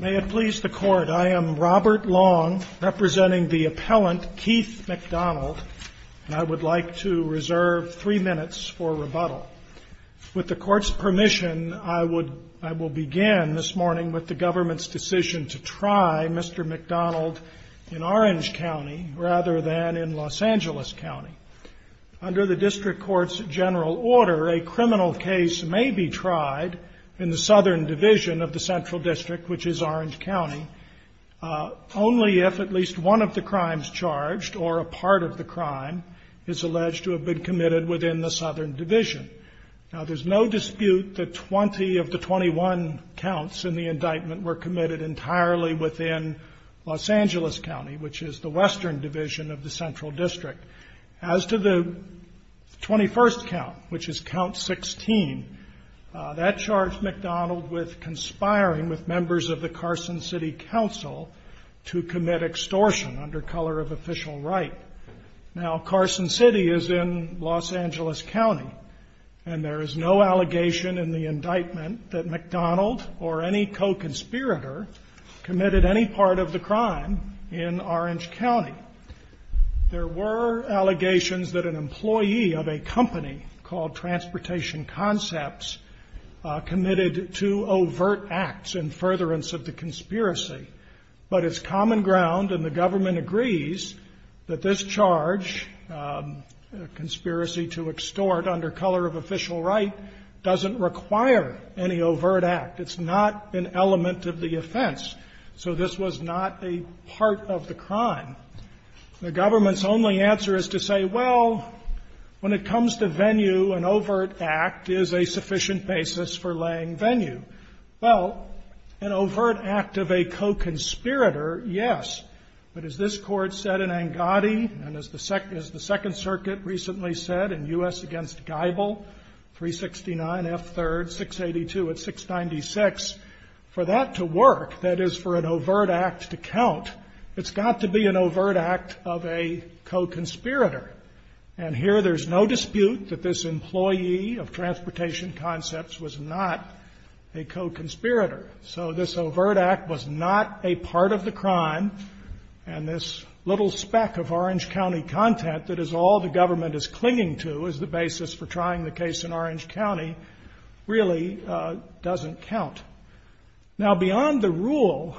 May it please the Court, I am Robert Long, representing the appellant Keith McDonald, and I would like to reserve three minutes for rebuttal. With the Court's permission, I will begin this morning with the government's decision to try Mr. McDonald in Orange County rather than in Los Angeles County. Under the District Court's general order, a criminal case may be tried in the Southern Division of the Central District, which is Orange County, only if at least one of the crimes charged or a part of the crime is alleged to have been committed within the Southern Division. Now, there's no dispute that 20 of the 21 counts in the indictment were committed entirely within Los Angeles County, which is the Western Division of the Central District. As to the 21st count, which is count 16, that charged McDonald with conspiring with members of the Carson City Council to commit extortion under color of official right. Now, Carson City is in Los Angeles County, and there is no allegation in the indictment that McDonald or any co-conspirator committed any part of the crime in Orange County. There were allegations that an employee of a company called Transportation Concepts committed two overt acts in furtherance of the conspiracy. But it's common ground, and the government agrees, that this charge, conspiracy to extort under color of official right, doesn't require any overt act. It's not an element of the offense. So this was not a part of the crime. The government's only answer is to say, well, when it comes to venue, an overt act is a sufficient basis for laying venue. Well, an overt act of a co-conspirator, yes. But as this Court said in Angotti and as the Second Circuit recently said in U.S. against Geibel, 369 F. 3rd, 682 at 696, for that to work, that is for an overt act to count, it's got to be an overt act of a co-conspirator. And here there's no dispute that this employee of Transportation Concepts was not a co-conspirator. So this overt act was not a part of the crime, and this little speck of Orange County content that is all the government is clinging to as the rule,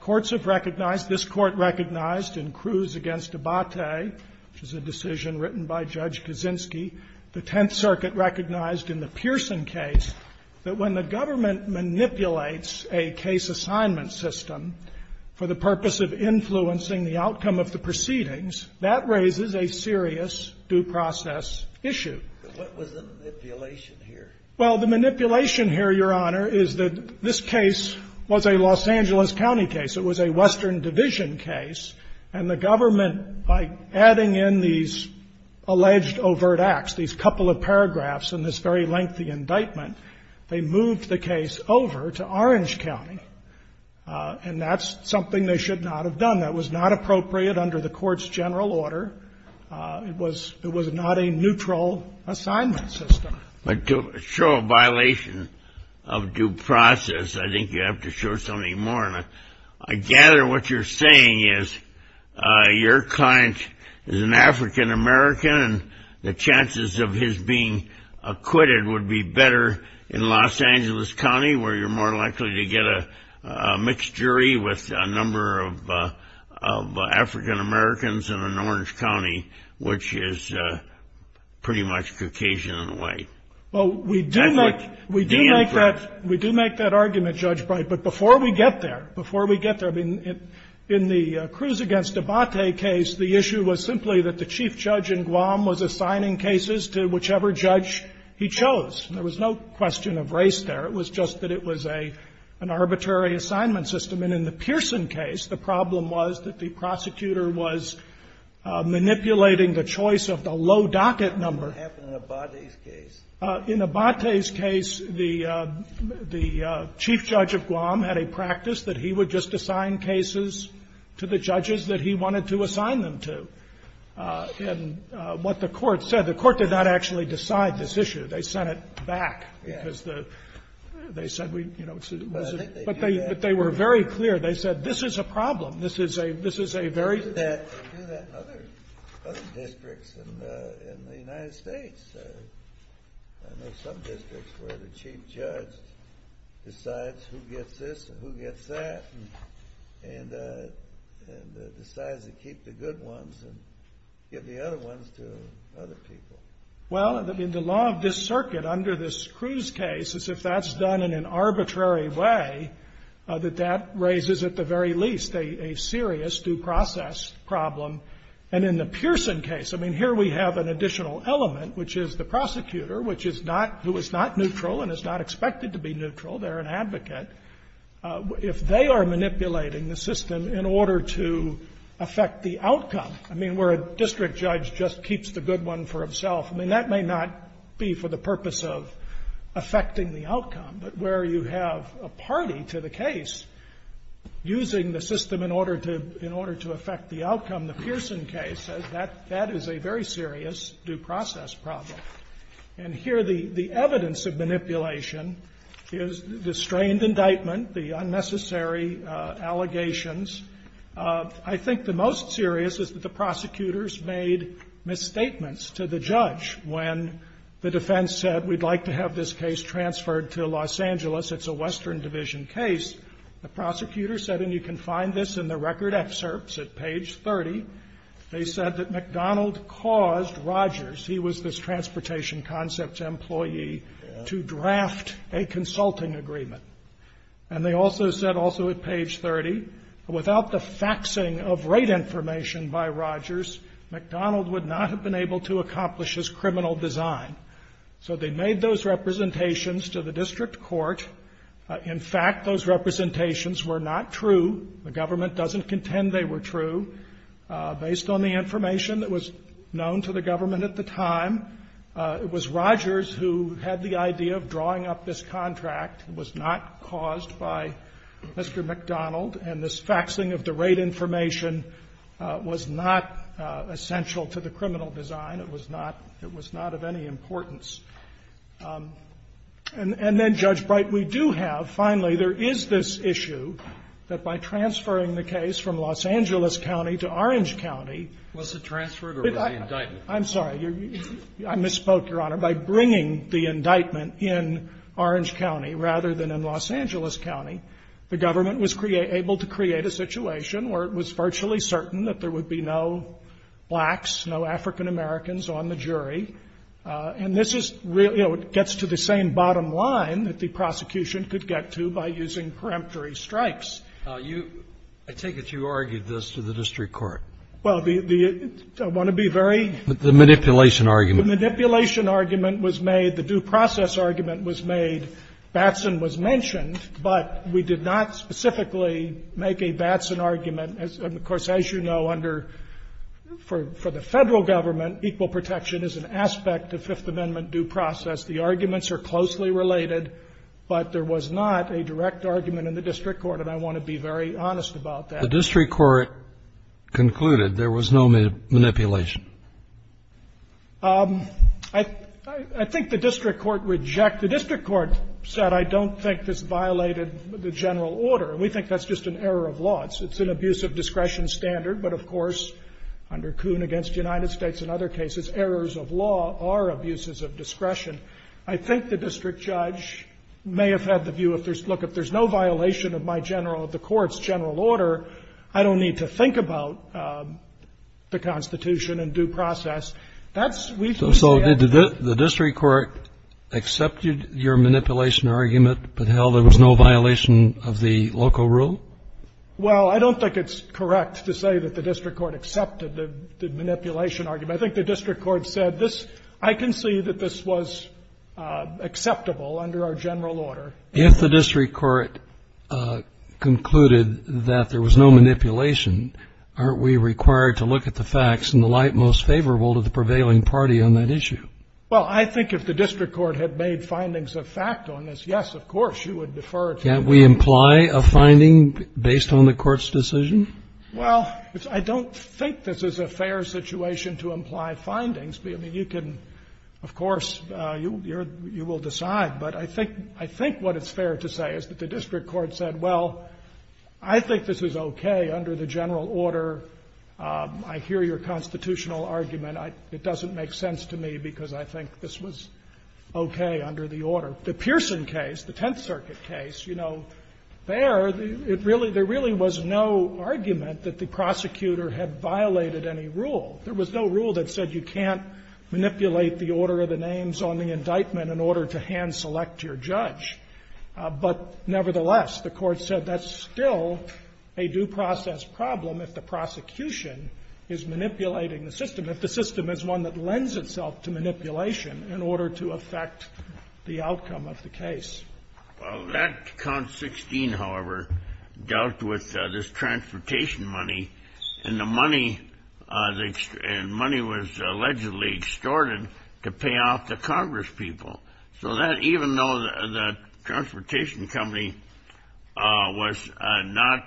courts have recognized, this Court recognized in Cruz against Abate, which is a decision written by Judge Kaczynski, the Tenth Circuit recognized in the Pearson case that when the government manipulates a case assignment system for the purpose of influencing the outcome of the proceedings, that raises a serious due process issue. But what was the manipulation here? Well, the manipulation here, Your Honor, is that this case was a Los Angeles County case. It was a Western Division case. And the government, by adding in these alleged overt acts, these couple of paragraphs in this very lengthy indictment, they moved the case over to Orange County. And that's something they should not have done. That was not appropriate under the court's general order. It was not a neutral assignment system. But to show a violation of due process, I think you have to show something more. And I gather what you're saying is your client is an African American, and the chances of his being acquitted would be better in Los Angeles County, where you're more likely to have a mixed jury with a number of African Americans in Orange County, which is pretty much Caucasian and white. Well, we do make that argument, Judge Bright. But before we get there, before we get there, I mean, in the Cruz against Abate case, the issue was simply that the chief judge in Guam was assigning cases to whichever judge he chose. There was no question of race there. It was just that it was an arbitrary assignment system. And in the Pearson case, the problem was that the prosecutor was manipulating the choice of the low docket number. What happened in Abate's case? In Abate's case, the chief judge of Guam had a practice that he would just assign cases to the judges that he wanted to assign them to. And what the Court said, the they said, but they were very clear. They said, this is a problem. This is a very Other districts in the United States, I know some districts where the chief judge decides who gets this and who gets that, and decides to keep the good ones and give the other ones to other people. Well, in the law of this circuit, under this Cruz case, as if that's done in an arbitrary way, that that raises at the very least a serious due process problem. And in the Pearson case, I mean, here we have an additional element, which is the prosecutor, which is not who is not neutral and is not expected to be neutral. They're an advocate. If they are manipulating the system in order to affect the outcome I mean, where a district judge just keeps the good one for himself, I mean, that may not be for the purpose of affecting the outcome. But where you have a party to the case using the system in order to affect the outcome, the Pearson case, that is a very serious due process problem. And here the evidence of manipulation is the strained indictment, the unnecessary allegations. I think the most serious is that the prosecutors made misstatements to the judge when the defense said, we'd like to have this case transferred to Los Angeles. It's a Western Division case. The prosecutor said, and you can find this in the record excerpts at page 30, they said that McDonald caused Rogers, he was this transportation concepts employee, to draft a consulting agreement. And they also said also at page 30, without the faxing of rate information by Rogers, McDonald would not have been able to accomplish his criminal design. So they made those representations to the district court. In fact, those representations were not true. The government doesn't contend they were true. Based on the information that was known to the government at the time, it was Rogers who had the idea of drawing up this contract. It was not caused by Mr. McDonald. And this faxing of the rate information was not essential to the criminal design. It was not of any importance. And then, Judge Bright, we do have, finally, there is this issue that by transferring the case from Los Angeles County to Orange County the government was able to create a situation where it was virtually certain that there would be no blacks, no African Americans on the jury. And this is really, you know, it gets to the same bottom line that the prosecution could get to by using peremptory strikes. I take it you argued this to the district court. Well, the one to be very ---- The manipulation argument. The manipulation argument was made, the due process argument was made, Batson was mentioned, but we did not specifically make a Batson argument. And, of course, as you know, under the Federal government, equal protection is an aspect of Fifth Amendment due process. The arguments are closely related, but there was not a direct argument in the district court, and I want to be very honest about that. The district court concluded there was no manipulation. I think the district court rejected the district court said, I don't think this violated the general order, and we think that's just an error of law. It's an abuse of discretion standard, but, of course, under Kuhn against the United States and other cases, errors of law are abuses of discretion. I think the district judge may have had the idea that, well, this is a violation of my general or the court's general order. I don't need to think about the Constitution and due process. That's we've used the evidence. So did the district court accept your manipulation argument, but, hell, there was no violation of the local rule? Well, I don't think it's correct to say that the district court accepted the manipulation argument. I think the district court said, this ---- I can see that this was acceptable under our general order. If the district court concluded that there was no manipulation, aren't we required to look at the facts in the light most favorable to the prevailing party on that issue? Well, I think if the district court had made findings of fact on this, yes, of course, you would defer to the district court. Can't we imply a finding based on the court's decision? Well, I don't think this is a fair situation to imply findings. I mean, you can, of course, you will decide. But I think what it's fair to say is that the district court said, well, I think this is okay under the general order. I hear your constitutional argument. It doesn't make sense to me because I think this was okay under the order. The Pearson case, the Tenth Circuit case, you know, there, it really ---- there really was no argument that the prosecutor had violated any rule. There was no rule that said you can't manipulate the order of the names on the indictment in order to hand-select your judge. But nevertheless, the Court said that's still a due process problem if the prosecution is manipulating the system, if the system is one that lends itself to manipulation in order to affect the outcome of the case. Well, that count 16, however, dealt with this transportation money, and the money was allegedly extorted to pay off the congresspeople. So that, even though the transportation company was not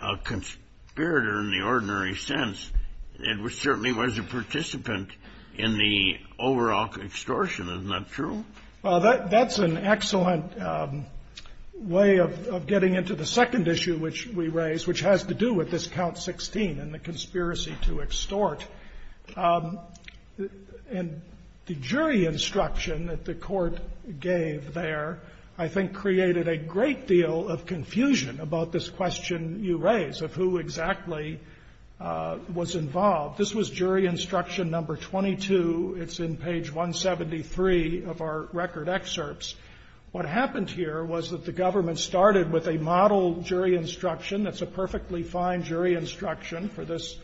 a conspirator in the ordinary sense, it certainly was a participant in the overall extortion. Isn't that true? Well, that's an excellent way of getting into the second issue which we raised, which has to do with this count 16 and the conspiracy to extort. And the jury instruction that the Court gave there, I think, created a great deal of confusion about this question you raised of who exactly was involved. This was jury instruction number 22. It's in page 173 of our record excerpts. What happened here was that the government started with a model jury instruction that's a perfectly fine jury instruction for this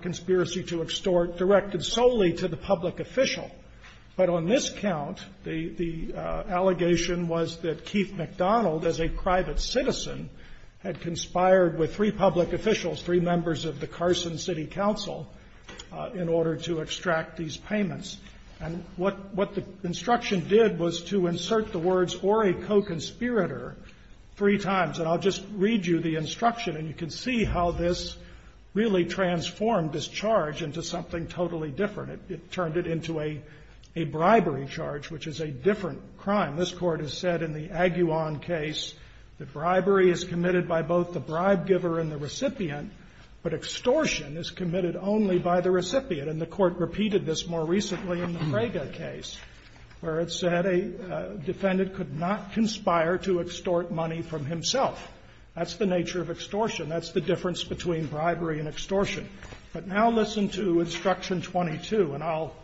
conspiracy to extort directed solely to the public official. But on this count, the allegation was that Keith McDonald, as a private citizen, had conspired with three public officials, three members of the Carson City Council, in order to extract these payments. And what the instruction did was to insert the words, or a co-conspirator, three times. And I'll just read you the instruction, and you can see how this really transformed this charge into something totally different. It turned it into a bribery charge, which is a different crime. This Court has said in the Aguillan case that bribery is committed by both the bribe giver and the recipient, but extortion is committed only by the recipient. And the Court repeated this more recently in the Fraga case, where it said a defendant could not conspire to extort money from himself. That's the nature of extortion. That's the difference between bribery and extortion. But now listen to Instruction 22, and I'll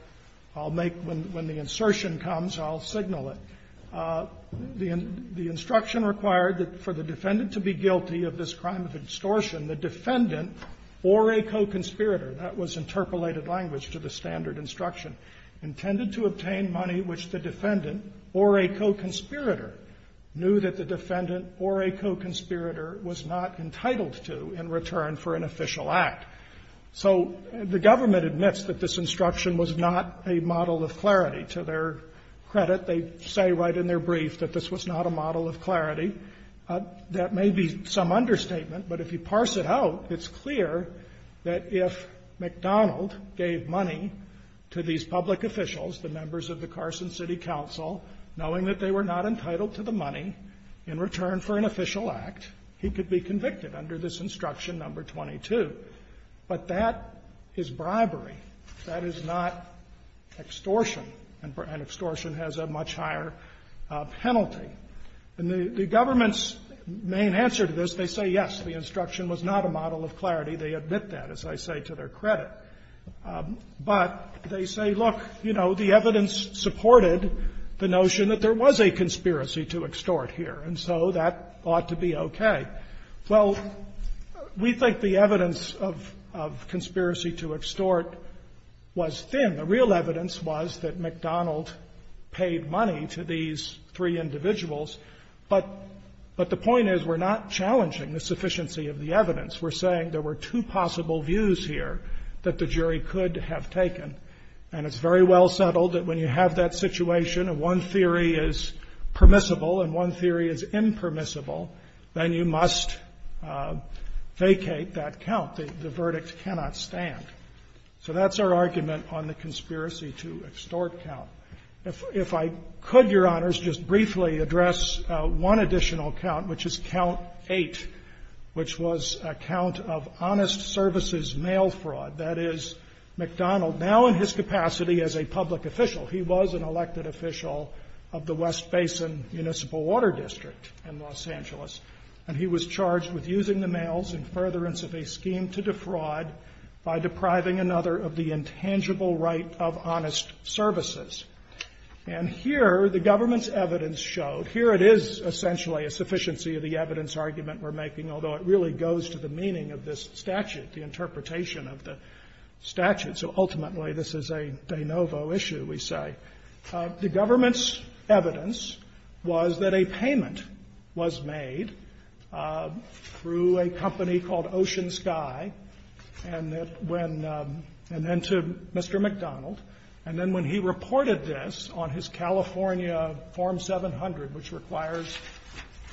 make when the insertion comes, I'll signal it. The instruction required that for the defendant to be guilty of this crime of extortion, the defendant or a co-conspirator --" that was interpolated language to the standard of instruction --" intended to obtain money which the defendant or a co-conspirator knew that the defendant or a co-conspirator was not entitled to in return for an official act. So the government admits that this instruction was not a model of clarity. To their credit, they say right in their brief that this was not a model of clarity. That may be some understatement, but if you parse it out, it's clear that if McDonald gave money to these public officials, the members of the Carson City Council, knowing that they were not entitled to the money in return for an official act, he could be convicted under this Instruction No. 22. But that is bribery. That is not extortion. And extortion has a much higher penalty. And the government's main answer to this, they say, yes, the instruction was not a model of clarity. They admit that, as I say, to their credit. But they say, look, you know, the evidence supported the notion that there was a conspiracy to extort here, and so that ought to be okay. Well, we think the evidence of conspiracy to extort was thin. The real evidence was that McDonald paid money to these three individuals. But the point is we're not challenging the sufficiency of the evidence. We're saying there were two possible views here that the jury could have taken. And it's very well settled that when you have that situation, and one theory is permissible and one theory is impermissible, then you must vacate that count. The verdict cannot stand. So that's our argument on the conspiracy to extort count. If I could, Your Honors, just briefly address one additional count, which is count eight, which was a count of honest services mail fraud. That is, McDonald, now in his capacity as a public official, he was an elected official of the West Basin Municipal Water District in Los Angeles. And he was charged with using the mails in furtherance of a scheme to defraud by depriving another of the intangible right of honest services. And here, the government's evidence showed, here it is essentially a sufficiency of the evidence argument we're making, although it really goes to the meaning of this statute, the interpretation of the statute. So ultimately, this is a de novo issue, we say. The government's evidence was that a payment was made through a company called Ocean Sky, and then to Mr. McDonald, and then when he reported this on his California Form 700, which requires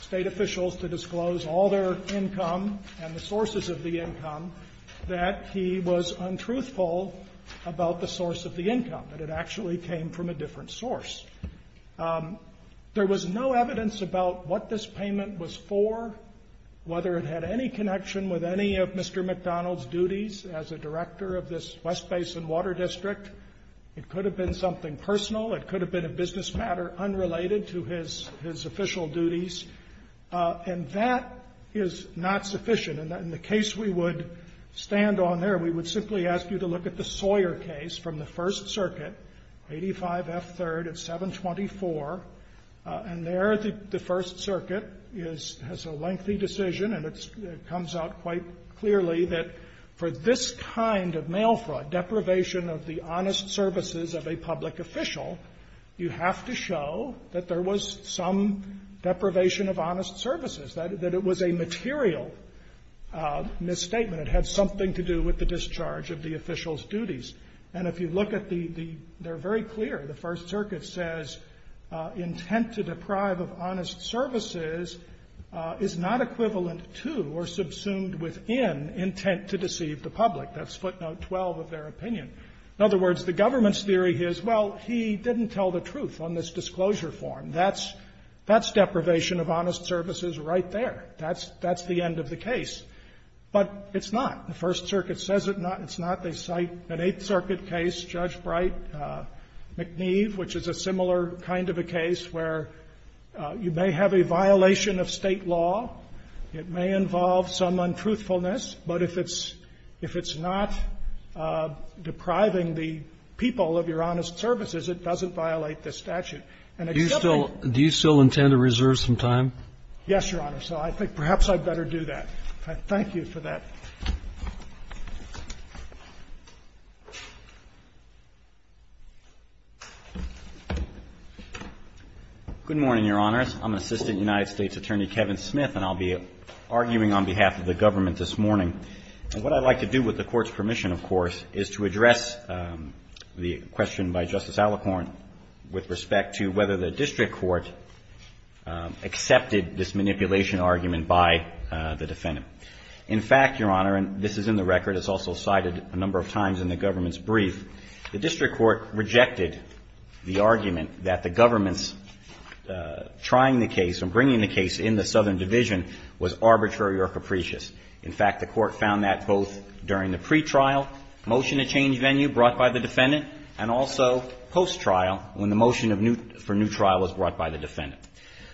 state officials to disclose all their income and the sources of the income, that he was untruthful about the source of the income, that it actually came from a different source. There was no evidence about what this payment was for, whether it had any connection with any of Mr. McDonald's duties as a director of this West Basin Water District. It could have been something personal. It could have been a business matter unrelated to his official duties. And that is not sufficient. In the case we would stand on there, we would simply ask you to look at the Sawyer case from the First Circuit, 85F3rd of 724. And there, the First Circuit has a lengthy decision, and it comes out quite clearly that for this kind of mail fraud, deprivation of the honest services of a public official, you have to show that there was some deprivation of honest services, that it was a material misstatement. It had something to do with the discharge of the official's duties. And if you look at the — they're very clear. The First Circuit says intent to deprive of honest services is not equivalent to or subsumed within intent to deceive the public. That's footnote 12 of their opinion. In other words, the government's theory is, well, he didn't tell the truth on this disclosure form. That's deprivation of honest services right there. That's the end of the case. But it's not. The First Circuit says it's not. They cite an Eighth Circuit case, Judge Bright-McNeve, which is a similar kind of a case where you may have a violation of State law. It may involve some untruthfulness. But if it's not depriving the people of your honest services, it doesn't violate this statute. And except that you still do you still intend to reserve some time? Yes, Your Honor. So I think perhaps I'd better do that. Thank you for that. Good morning, Your Honors. I'm Assistant United States Attorney Kevin Smith, and I'll be arguing on behalf of the government this morning. And what I'd like to do with the Court's permission, of course, is to address the question by Justice Alicorn with respect to whether the district court accepted this manipulation argument by the defendant. In fact, Your Honor, and this is in the record, it's also cited a number of times in the government's brief, the district court rejected the argument that the government's trying the case and bringing the case in the Southern Division was arbitrary or capricious. In fact, the Court found that both during the pretrial motion to change venue brought by the defendant and also post-trial when the motion for new trial was brought by the defendant.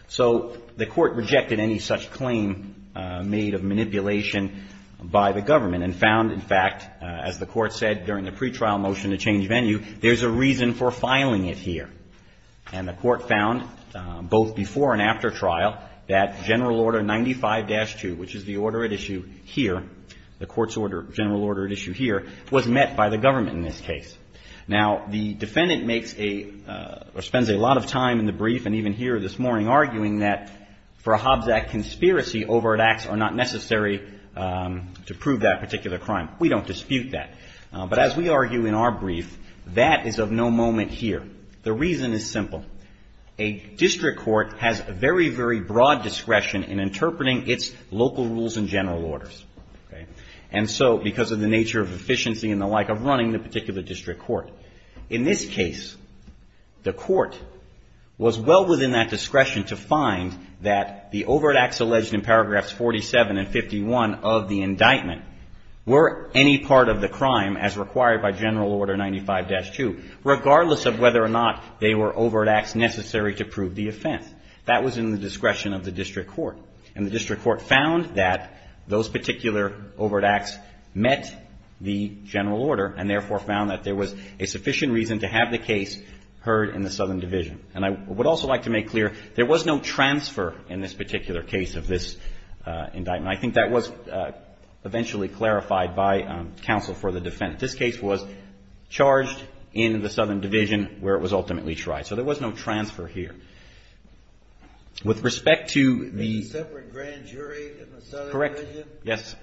So the Court rejected any such claim made of manipulation by the government and found, in fact, as the Court said during the pretrial motion to change venue, there's a reason for filing it here. And the Court found both before and after trial that General Order 95-2, which is the order at issue here, the Court's order, general order at issue here, was met by the government in this case. Now the defendant makes a, or spends a lot of time in the brief and even here this morning arguing that for a Hobbs Act conspiracy, overt acts are not necessary to prove that particular crime. We don't dispute that. But as we argue in our brief, that is of no moment here. The reason is simple. A district court has a very, very broad discretion in interpreting its local rules and general orders. And so because of the nature of efficiency and the like of running the particular district court. In this case, the Court was well within that discretion to find that the overt acts alleged in paragraphs 47 and 51 of the indictment were any part of the crime as required by the district court. Whether or not they were overt acts necessary to prove the offense. That was in the discretion of the district court. And the district court found that those particular overt acts met the general order and therefore found that there was a sufficient reason to have the case heard in the Southern Division. And I would also like to make clear there was no transfer in this particular case of this indictment. I think that was eventually clarified by counsel for the defense. This case was charged in the Southern Division where it was ultimately tried. So there was no transfer here. With respect to the... A separate grand jury in the Southern Division? Correct. Yes.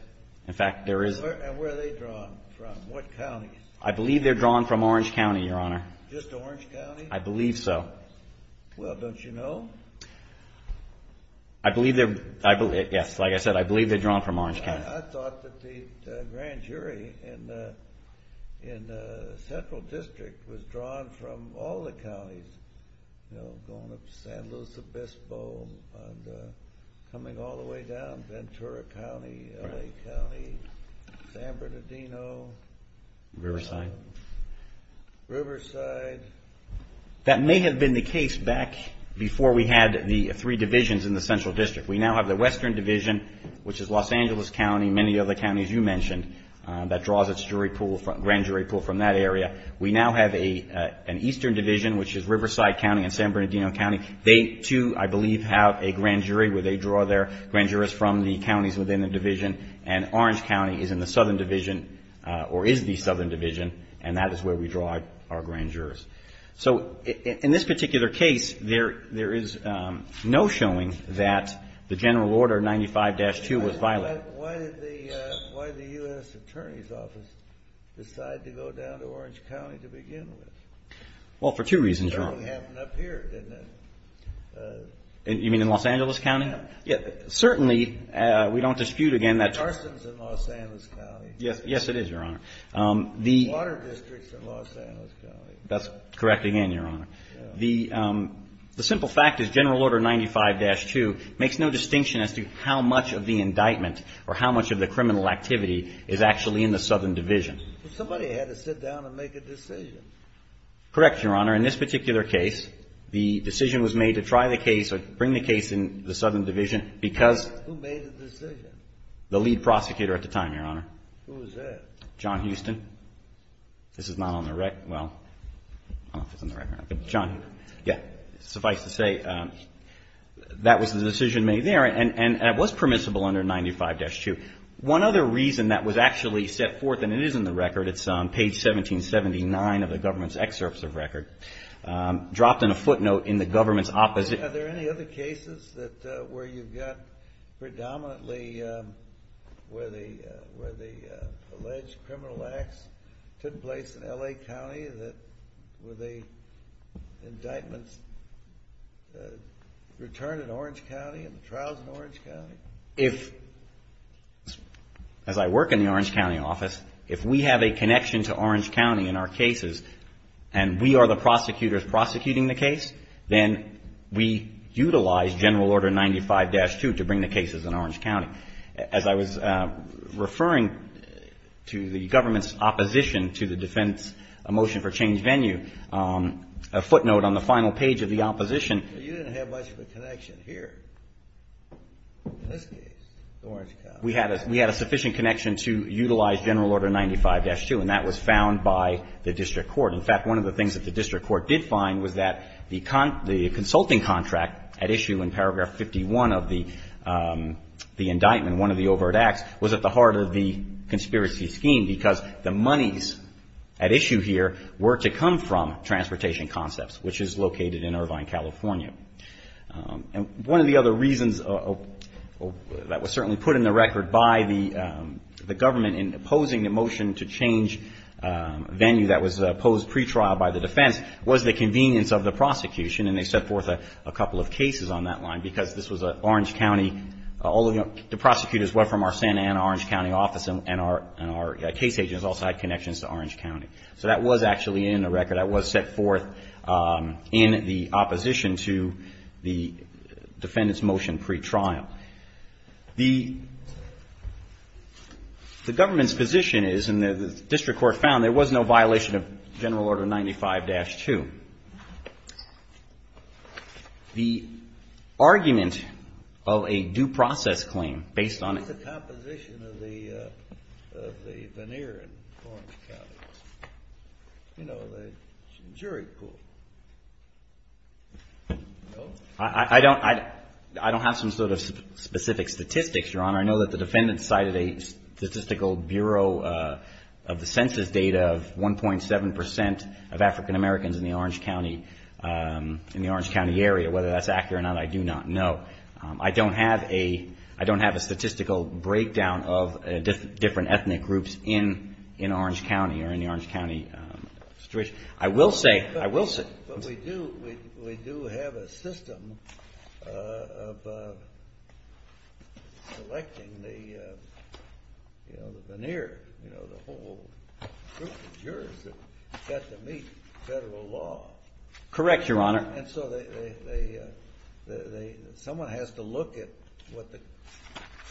In fact, there is... And where are they drawn from? What counties? I believe they're drawn from Orange County, Your Honor. Just Orange County? I believe so. Well, don't you know? I believe they're... Yes. Like I said, I believe they're drawn from Orange County. I thought that the grand jury in the Southern Division... In the Central District was drawn from all the counties, going up to San Luis Obispo, and coming all the way down, Ventura County, L.A. County, San Bernardino, Riverside. That may have been the case back before we had the three divisions in the Central District. We now have the Western Division, which is Los Angeles County, many of the counties you have a grand jury pulled from that area. We now have an Eastern Division, which is Riverside County and San Bernardino County. They too, I believe, have a grand jury where they draw their grand jurors from the counties within the division. And Orange County is in the Southern Division, or is the Southern Division, and that is where we draw our grand jurors. So in this particular case, there is no showing that the general order 95-2 was violated. Why did the U.S. Attorney's Office decide to go down to Orange County to begin with? Well, for two reasons, Your Honor. It certainly happened up here, didn't it? You mean in Los Angeles County? Yeah. Certainly, we don't dispute again that... There's arsons in Los Angeles County. Yes, it is, Your Honor. Water districts in Los Angeles County. That's correct again, Your Honor. The simple fact is general order 95-2 makes no distinction as to how much of the indictment or how much of the criminal activity is actually in the Southern Division. Somebody had to sit down and make a decision. Correct, Your Honor. In this particular case, the decision was made to try the case or bring the case in the Southern Division because... Who made the decision? The lead prosecutor at the time, Your Honor. Who was that? John Houston. This is not on the record. Well, I don't know if it's on the record. John? Yeah. Suffice to say, that was the decision made there, and it was permissible under 95-2. One other reason that was actually set forth, and it is in the record, it's on page 1779 of the government's excerpts of record, dropped in a footnote in the government's opposite... It took place in L.A. County. Were the indictments returned in Orange County and the trials in Orange County? If, as I work in the Orange County office, if we have a connection to Orange County in our cases and we are the prosecutors prosecuting the case, then we utilize general order 95-2 to bring the cases in Orange County. As I was referring to the government's opposition to the defense motion for change venue, a footnote on the final page of the opposition... You didn't have much of a connection here in this case to Orange County. We had a sufficient connection to utilize general order 95-2, and that was found by the district court. In fact, one of the things that the district court did find was that the consulting contract at issue in paragraph 51 of the indictment, one of the overt acts, was at the heart of the conspiracy scheme because the monies at issue here were to come from Transportation Concepts, which is located in Irvine, California. One of the other reasons that was certainly put in the record by the government in opposing the motion to change venue that was posed pretrial by the defense was the convenience of the prosecution, and they set forth a couple of cases on that line because this was an Orange County... The prosecutors were from our Santa Ana, Orange County office and our case agents also had connections to Orange County. So that was actually in the record. That was set forth in the opposition to the defendant's motion pretrial. The government's position is, and the district court found, there was no violation of general order 95-2. The argument of a due process claim based on... What's the composition of the veneer in Orange County? You know, the jury pool. I don't have some sort of specific statistics, Your Honor. I know that the defendant cited a statistical bureau of the census data of 1.7% of African Americans in the Orange County area. Whether that's accurate or not, I do not know. I don't have a statistical breakdown of different ethnic groups in Orange County or in the Orange County situation. I will say... But we do have a system of selecting the veneer. The whole group of jurors that got to meet federal law. Correct, Your Honor. And so someone has to look at what the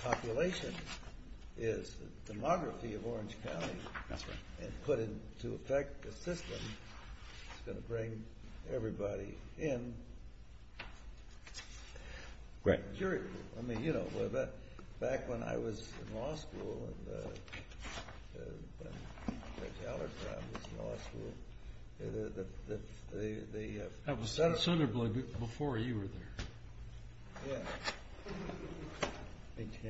population is, the demography of Orange County, and put it into effect. A system that's going to bring everybody in. Back when I was in law school and Judge Allertown was in law school... That was before you were there. Yeah. Me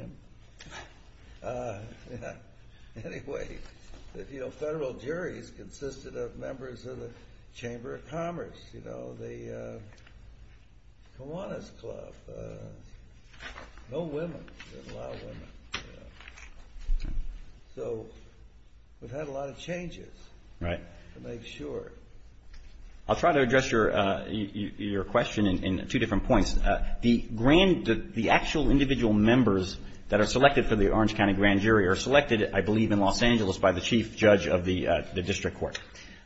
too. Anyway, federal juries consisted of members of the Chamber of Commerce, the Kiwanis Club. No women. There's a lot of women. So we've had a lot of changes to make sure. I'll try to address your question in two different points. The actual individual members that are selected for the Orange County Grand Jury are selected, I believe, in Los Angeles by the Chief Judge of the District Court.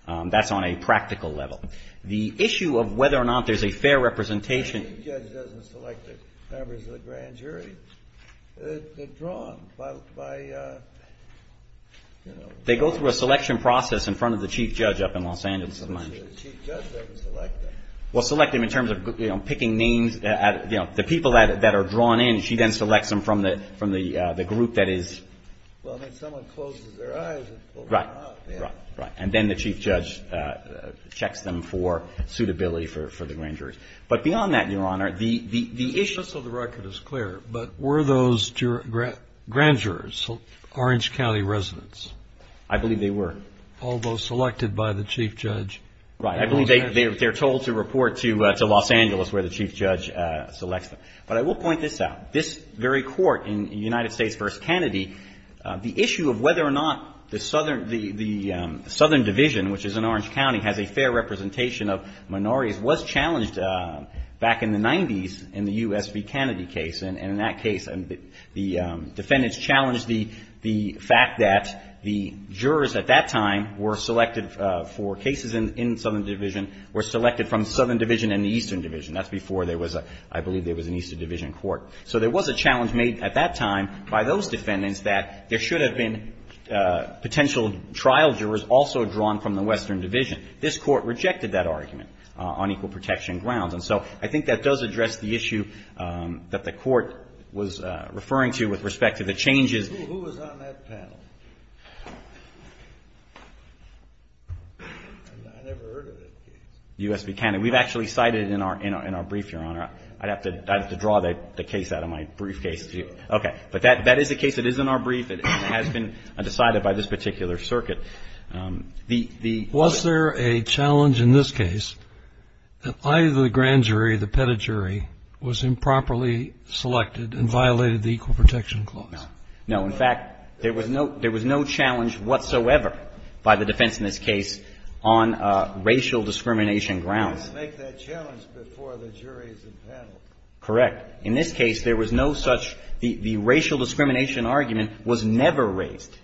That's on a practical level. The issue of whether or not there's a fair representation... The Chief Judge doesn't select the members of the Grand Jury. They're drawn by... They go through a selection process in front of the Chief Judge up in Los Angeles. The Chief Judge doesn't select them. Well, select them in terms of picking names. The people that are drawn in, she then selects them from the group that is... Well, then someone closes their eyes and pulls them out. Right. And then the Chief Judge checks them for suitability for the Grand Juries. But beyond that, Your Honor, the issue... Just so the record is clear, but were those Grand Jurors Orange County residents? I believe they were. All those selected by the Chief Judge? Right. I believe they're told to report to Los Angeles where the Chief Judge selects them. But I will point this out. This very court in United States v. Kennedy, the issue of whether or not the Southern Division, which is in Orange County, has a fair representation of minorities, was challenged back in the 90s in the U.S. v. Kennedy case. And in that case, the defendants challenged the fact that the jurors at that time were selected for cases in Southern Division, were selected from Southern Division and the Eastern Division. That's before there was a, I believe there was an Eastern Division court. So there was a challenge made at that time by those defendants that there should have been potential trial jurors also drawn from the Western Division. This Court rejected that argument on equal protection grounds. And so I think that does address the issue that the Court was referring to with respect to the changes... I've never heard of that case. U.S. v. Kennedy. We've actually cited it in our brief, Your Honor. I'd have to draw the case out of my briefcase to you. Okay. But that is the case that is in our brief and has been decided by this particular circuit. The... Was there a challenge in this case that either the grand jury, the petta jury, was improperly selected and violated the equal protection clause? No. No. In fact, there was no challenge whatsoever by the defense in this case on racial discrimination grounds. They make that challenge before the jury is impaneled. Correct. In this case, there was no such... The racial discrimination argument was never raised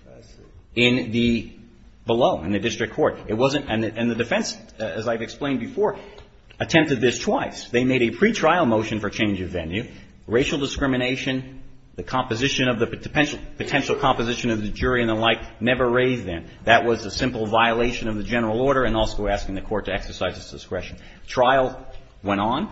in the below, in the district court. It wasn't... And the defense, as I've explained before, attempted this twice. They made a pretrial motion for change of venue. Racial discrimination, the composition of the... Potential composition of the jury and the like never raised then. That was a simple violation of the general order and also asking the court to exercise its discretion. Trial went on.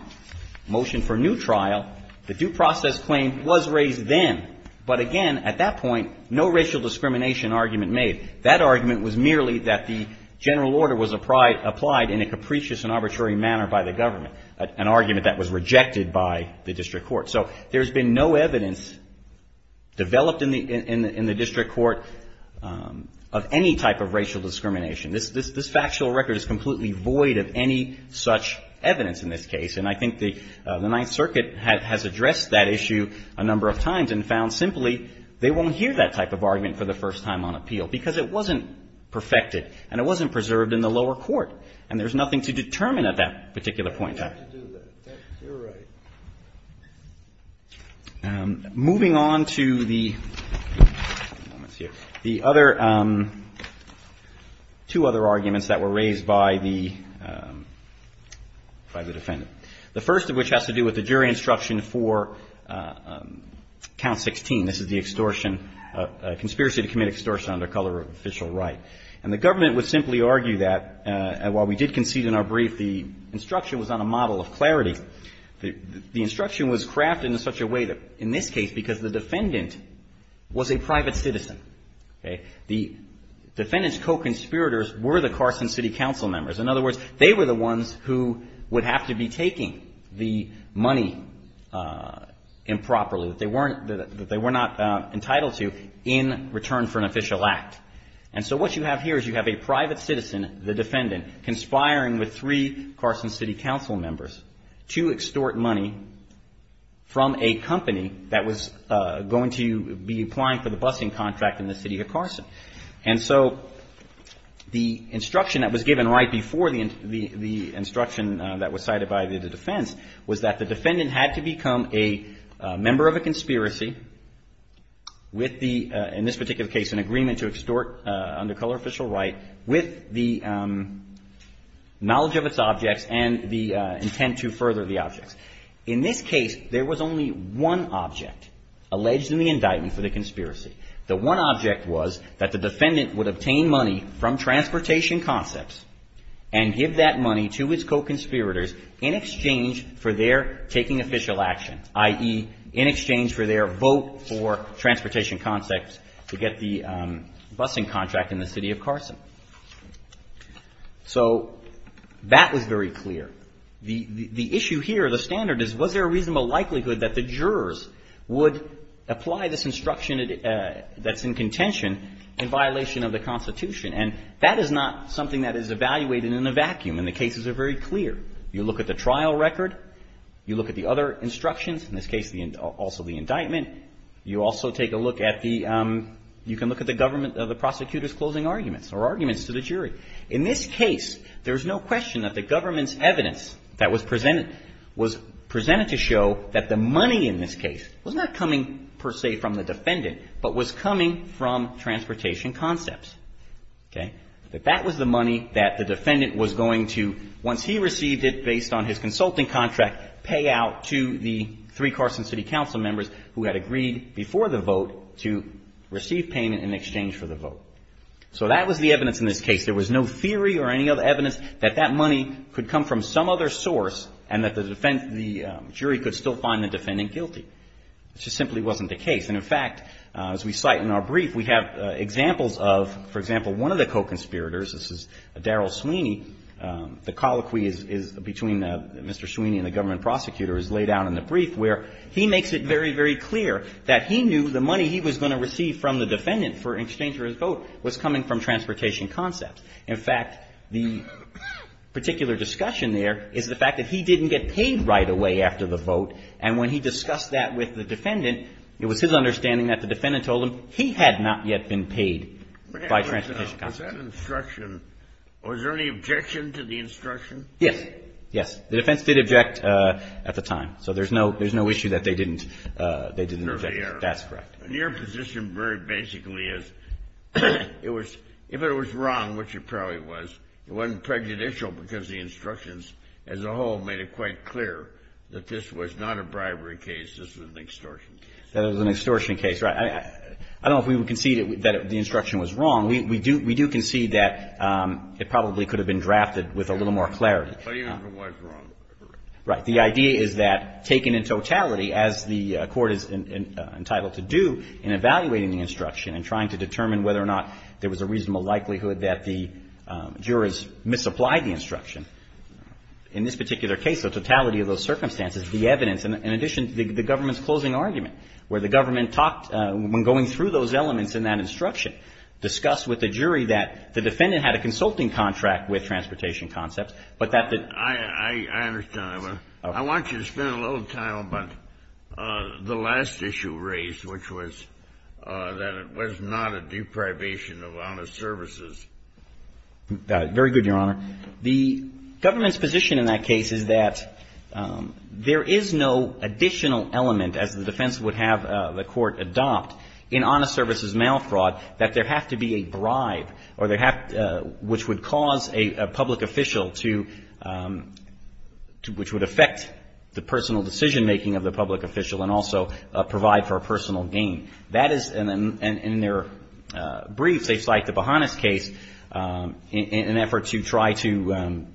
Motion for new trial. The due process claim was raised then. But again, at that point, no racial discrimination argument made. That argument was merely that the general order was applied in a capricious and arbitrary manner by the government. An argument that was rejected by the district court. So there's been no evidence developed in the district court of any type of racial discrimination. This factual record is completely void of any such evidence in this case. And I think the Ninth Circuit has addressed that issue a number of times and found simply they won't hear that type of argument for the first time on appeal because it wasn't perfected and it wasn't preserved in the lower court. And there's nothing to determine at that particular point. You're right. Moving on to the other two other arguments that were raised by the defendant. The first of which has to do with the jury instruction for count 16. This is the extortion, conspiracy to commit extortion under color of official act. And the government would simply argue that while we did concede in our brief the instruction was on a model of clarity. The instruction was crafted in such a way that in this case because the defendant was a private citizen, okay, the defendant's co-conspirators were the Carson City Council members. In other words, they were the ones who would have to be taking the money improperly, that they were not entitled to in return for an official act. And so what you have here is you have a private citizen, the defendant, conspiring with three Carson City Council members to extort money from a company that was going to be applying for the busing contract in the city of Carson. And so the instruction that was given right before the instruction that was cited by the defense was that the defendant had to become a member of a conspiracy with the, in this particular case, an agreement to extort under color official right with the knowledge of its objects and the intent to further the objects. In this case, there was only one object alleged in the indictment for the conspiracy. The one object was that the defendant would obtain money from transportation concepts and give that money to his co-conspirators in exchange for their taking official action, i.e., in exchange for their vote for transportation concepts to get the busing contract in the city of Carson. So that was very clear. The issue here, the standard, is was there a reasonable likelihood that the jurors would apply this instruction that's in contention in violation of the Constitution? And that is not something that is evaluated in a vacuum, and the cases are very clear. You look at the trial record. You look at the other instructions, in this case also the indictment. You also take a look at the, you can look at the government, the prosecutor's closing arguments or arguments to the jury. In this case, there's no question that the government's evidence that was presented was presented to show that the money in this case was not coming, per se, from the defendant, but was coming from transportation concepts. Okay? That that was the money that the defendant was going to, once he received it based on his consulting contract, pay out to the three Carson City Council members who had agreed before the vote to receive payment in exchange for the vote. So that was the evidence in this case. There was no theory or any other evidence that that money could come from some other source and that the jury could still find the defendant guilty. It just simply wasn't the case. And, in fact, as we cite in our brief, we have examples of, for example, one of the co-conspirators, this is Daryl Sweeney, the colloquy is between Mr. Sweeney and the government prosecutor is laid out in the brief where he makes it very, very clear that he knew the money he was going to receive from the defendant in exchange for his vote was coming from transportation concepts. In fact, the particular discussion there is the fact that he didn't get paid right away after the vote. And when he discussed that with the defendant, it was his understanding that the defendant told him he had not yet been paid by transportation concepts. Was that instruction, was there any objection to the instruction? Yes. Yes. The defense did object at the time. So there's no issue that they didn't object. That's correct. And your position very basically is it was, if it was wrong, which it probably was, it was not a bribery case, this was an extortion case. That it was an extortion case, right. I don't know if we would concede that the instruction was wrong. We do concede that it probably could have been drafted with a little more clarity. But it was wrong. Right. The idea is that, taken in totality, as the Court is entitled to do in evaluating the instruction and trying to determine whether or not there was a reasonable likelihood that the jurors misapplied the instruction. In this particular case, the totality of those circumstances, the evidence, in addition to the government's closing argument, where the government talked, when going through those elements in that instruction, discussed with the jury that the defendant had a consulting contract with transportation concepts, but that the ---- I understand. I want you to spend a little time on the last issue raised, which was that it was not a new probation of honest services. Very good, Your Honor. The government's position in that case is that there is no additional element, as the defense would have the Court adopt, in honest services mail fraud that there have to be a bribe or there have to ---- which would cause a public official to ---- which would affect the personal decision-making of the public official and also provide for a personal gain. That is in their briefs. They cite the Bahannas case in an effort to try to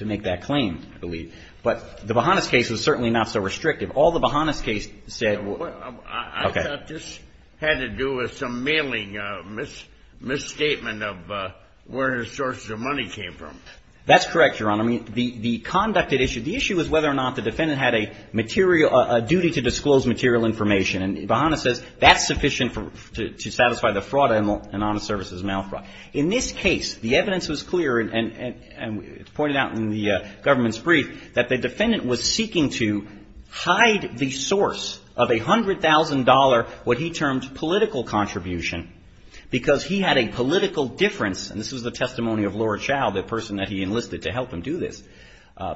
make that claim, I believe. But the Bahannas case is certainly not so restrictive. All the Bahannas case said ---- I thought this had to do with some mailing misstatement of where the sources of money came from. That's correct, Your Honor. I mean, the conducted issue, the issue is whether or not the defendant had a material ---- a duty to disclose material information. And Bahannas says that's sufficient to satisfy the fraud in honest services mail fraud. In this case, the evidence was clear, and it's pointed out in the government's brief, that the defendant was seeking to hide the source of a $100,000, what he termed political contribution, because he had a political difference, and this was the testimony of Laura Chow, the person that he enlisted to help him do this,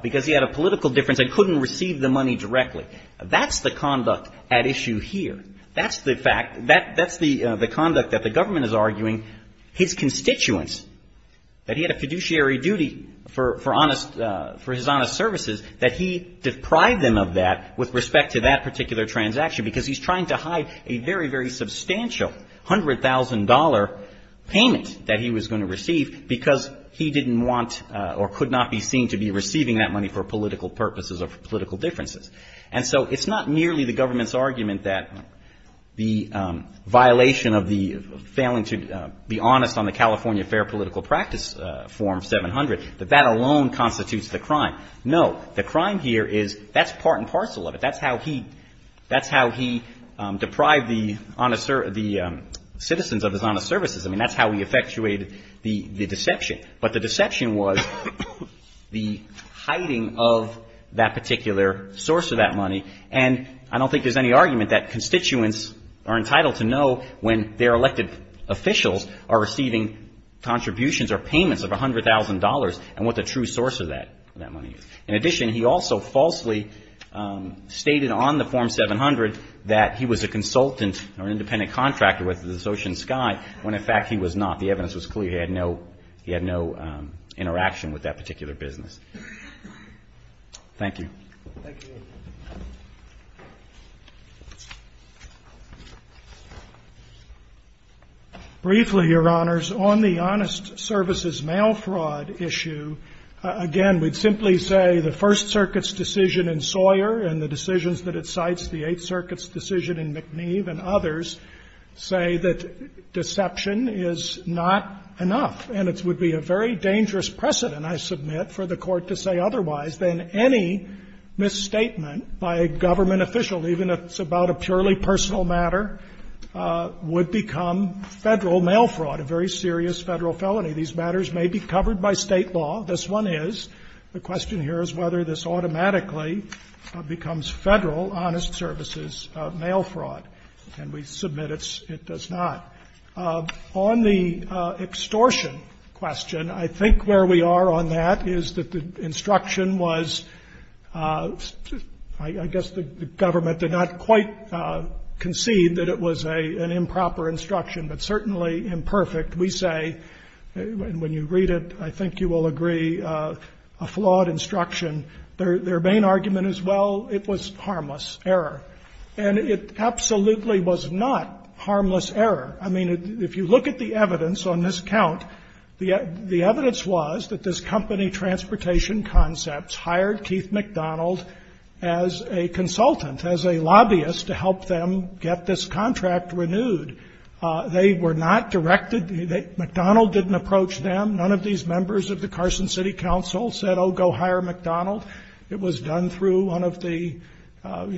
because he had a political difference and couldn't receive the money directly. That's the conduct at issue here. That's the fact. That's the conduct that the government is arguing his constituents, that he had a fiduciary duty for his honest services, that he deprived them of that with respect to that particular transaction, because he's trying to hide a very, very substantial $100,000 payment that he was going to receive because he didn't want or could not be seen to be receiving that money for political purposes or for political differences. And so it's not merely the government's argument that the violation of the failing to be honest on the California Fair Political Practice Form 700, that that alone constitutes the crime. No. The crime here is that's part and parcel of it. That's how he deprived the citizens of his honest services. I mean, that's how he effectuated the deception. But the deception was the hiding of that particular source of that money. And I don't think there's any argument that constituents are entitled to know when their elected officials are receiving contributions or payments of $100,000 and what the true source of that money is. In addition, he also falsely stated on the Form 700 that he was a consultant or an independent with that particular business. Thank you. Thank you. Briefly, Your Honors, on the honest services mail fraud issue, again, we'd simply say the First Circuit's decision in Sawyer and the decisions that it cites, the Eighth Circuit, is a very dangerous precedent, I submit, for the Court to say otherwise than any misstatement by a government official, even if it's about a purely personal matter, would become Federal mail fraud, a very serious Federal felony. These matters may be covered by State law. This one is. The question here is whether this automatically becomes Federal honest services mail fraud. And we submit it's not. On the extortion question, I think where we are on that is that the instruction was, I guess the government did not quite concede that it was an improper instruction, but certainly imperfect. We say, when you read it, I think you will agree, a flawed instruction. Their main argument is, well, it was harmless error. And it absolutely was not harmless error. I mean, if you look at the evidence on this count, the evidence was that this company, Transportation Concepts, hired Keith McDonald as a consultant, as a lobbyist, to help them get this contract renewed. They were not directed. McDonald didn't approach them. None of these members of the Carson City Council said, oh, go hire McDonald. It was done through one of the, you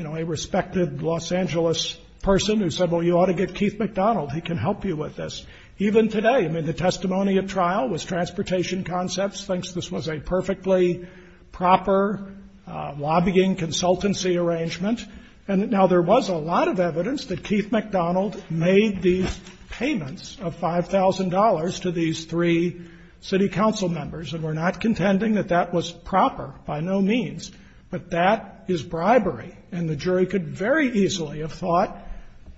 know, a respected Los Angeles person who said, well, you ought to get Keith McDonald. He can help you with this. Even today, I mean, the testimony of trial was Transportation Concepts thinks this was a perfectly proper lobbying consultancy arrangement. And now there was a lot of evidence that Keith McDonald made these payments of $5,000 to these three city council members, and we're not contending that that was proper by no means, but that is bribery. And the jury could very easily have thought,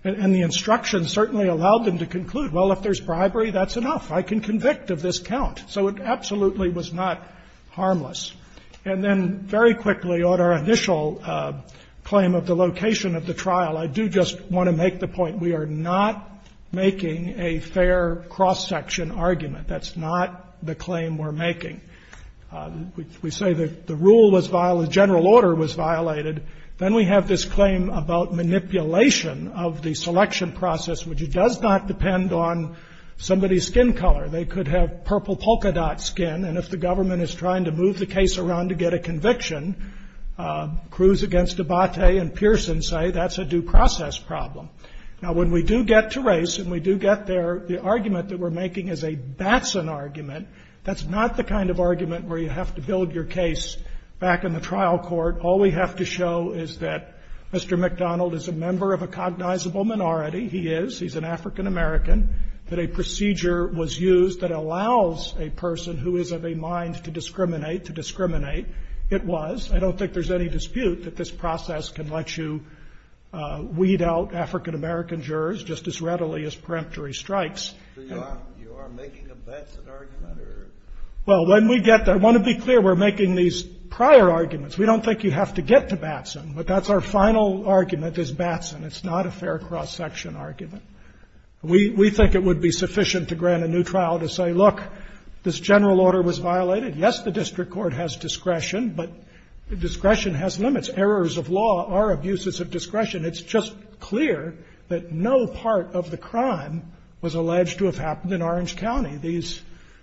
and the instruction certainly allowed them to conclude, well, if there's bribery, that's enough. I can convict of this count. So it absolutely was not harmless. And then, very quickly, on our initial claim of the location of the trial, I do just want to make the point we are not making a fair cross-section argument. That's not the claim we're making. We say the rule was violated, the general order was violated. Then we have this claim about manipulation of the selection process, which does not depend on somebody's skin color. They could have purple polka dot skin, and if the government is trying to move the case around to get a conviction, Cruz against Abate and Pearson say that's a due process problem. Now, when we do get to race, and we do get there, the argument that we're making is a Batson argument. That's not the kind of argument where you have to build your case back in the trial court. All we have to show is that Mr. McDonald is a member of a cognizable minority. He is. He's an African-American. That a procedure was used that allows a person who is of a mind to discriminate to discriminate. It was. I don't think there's any dispute that this process can let you weed out African-American jurors just as readily as peremptory strikes. So you are making a Batson argument, or? Well, when we get there, I want to be clear, we're making these prior arguments. We don't think you have to get to Batson, but that's our final argument is Batson. It's not a fair cross-section argument. We think it would be sufficient to grant a new trial to say, look, this general order was violated. Yes, the district court has discretion, but discretion has limits. Errors of law are abuses of discretion. It's just clear that no part of the crime was alleged to have happened in Orange County. These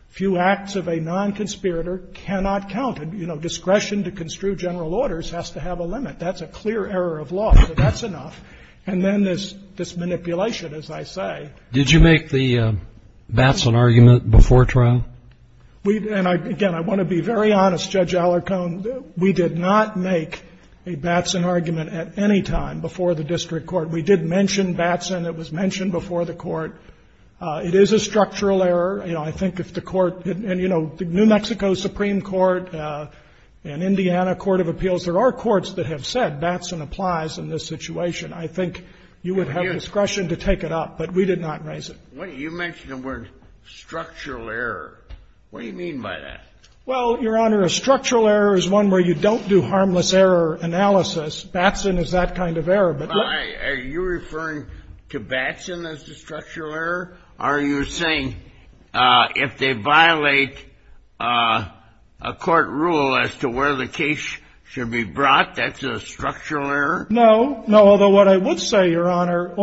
few acts of a non-conspirator cannot count. You know, discretion to construe general orders has to have a limit. That's a clear error of law. So that's enough. And then there's this manipulation, as I say. Did you make the Batson argument before trial? And, again, I want to be very honest, Judge Allercone, we did not make a Batson argument at any time before the district court. We did mention Batson. It was mentioned before the court. It is a structural error. You know, I think if the court had been, you know, the New Mexico Supreme Court and Indiana Court of Appeals, there are courts that have said Batson applies in this situation. I think you would have discretion to take it up, but we did not raise it. You mentioned the word structural error. What do you mean by that? Well, Your Honor, a structural error is one where you don't do harmless error analysis Batson is that kind of error. Why? Are you referring to Batson as the structural error? Are you saying if they violate a court rule as to where the case should be brought, that's a structural error? No. No. Although what I would say, Your Honor,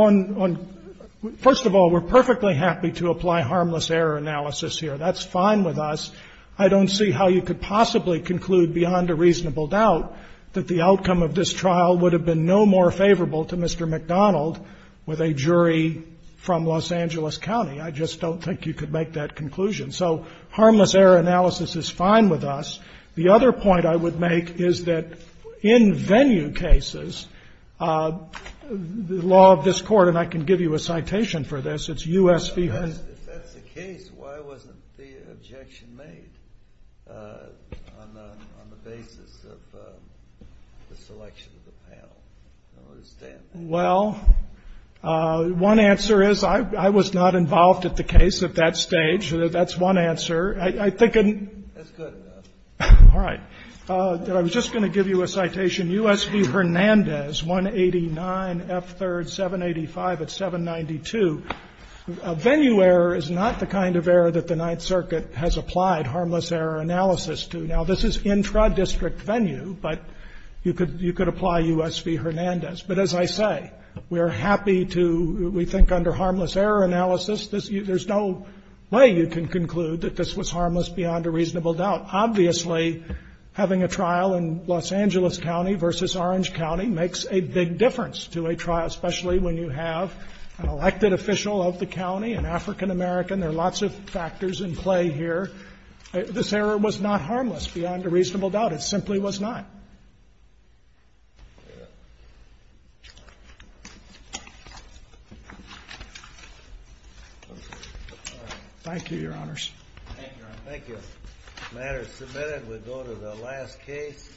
first of all, we're perfectly happy to apply harmless error analysis here. That's fine with us. I don't see how you could possibly conclude beyond a reasonable doubt that the outcome of this trial would have been no more favorable to Mr. MacDonald with a jury from Los Angeles County. I just don't think you could make that conclusion. So harmless error analysis is fine with us. The other point I would make is that in venue cases, the law of this Court, and I can give you a citation for this, it's U.S. v. Hunt. Well, one answer is I was not involved at the case at that stage. That's one answer. That's good enough. All right. I was just going to give you a citation, U.S. v. Hernandez, 189 F. 3rd, 785 at 792. Venue error is not the kind of error that the Ninth Circuit has applied harmless error analysis to. Now, this is intra-district venue, but you could apply U.S. v. Hernandez. But as I say, we are happy to, we think under harmless error analysis, there's no way you can conclude that this was harmless beyond a reasonable doubt. Obviously, having a trial in Los Angeles County versus Orange County makes a big difference to a trial, especially when you have an elected official of the county, an African-American. There are lots of factors in play here. This error was not harmless beyond a reasonable doubt. It simply was not. Thank you, Your Honors. Thank you, Your Honor. Thank you. The matter is submitted. We'll go to the last case.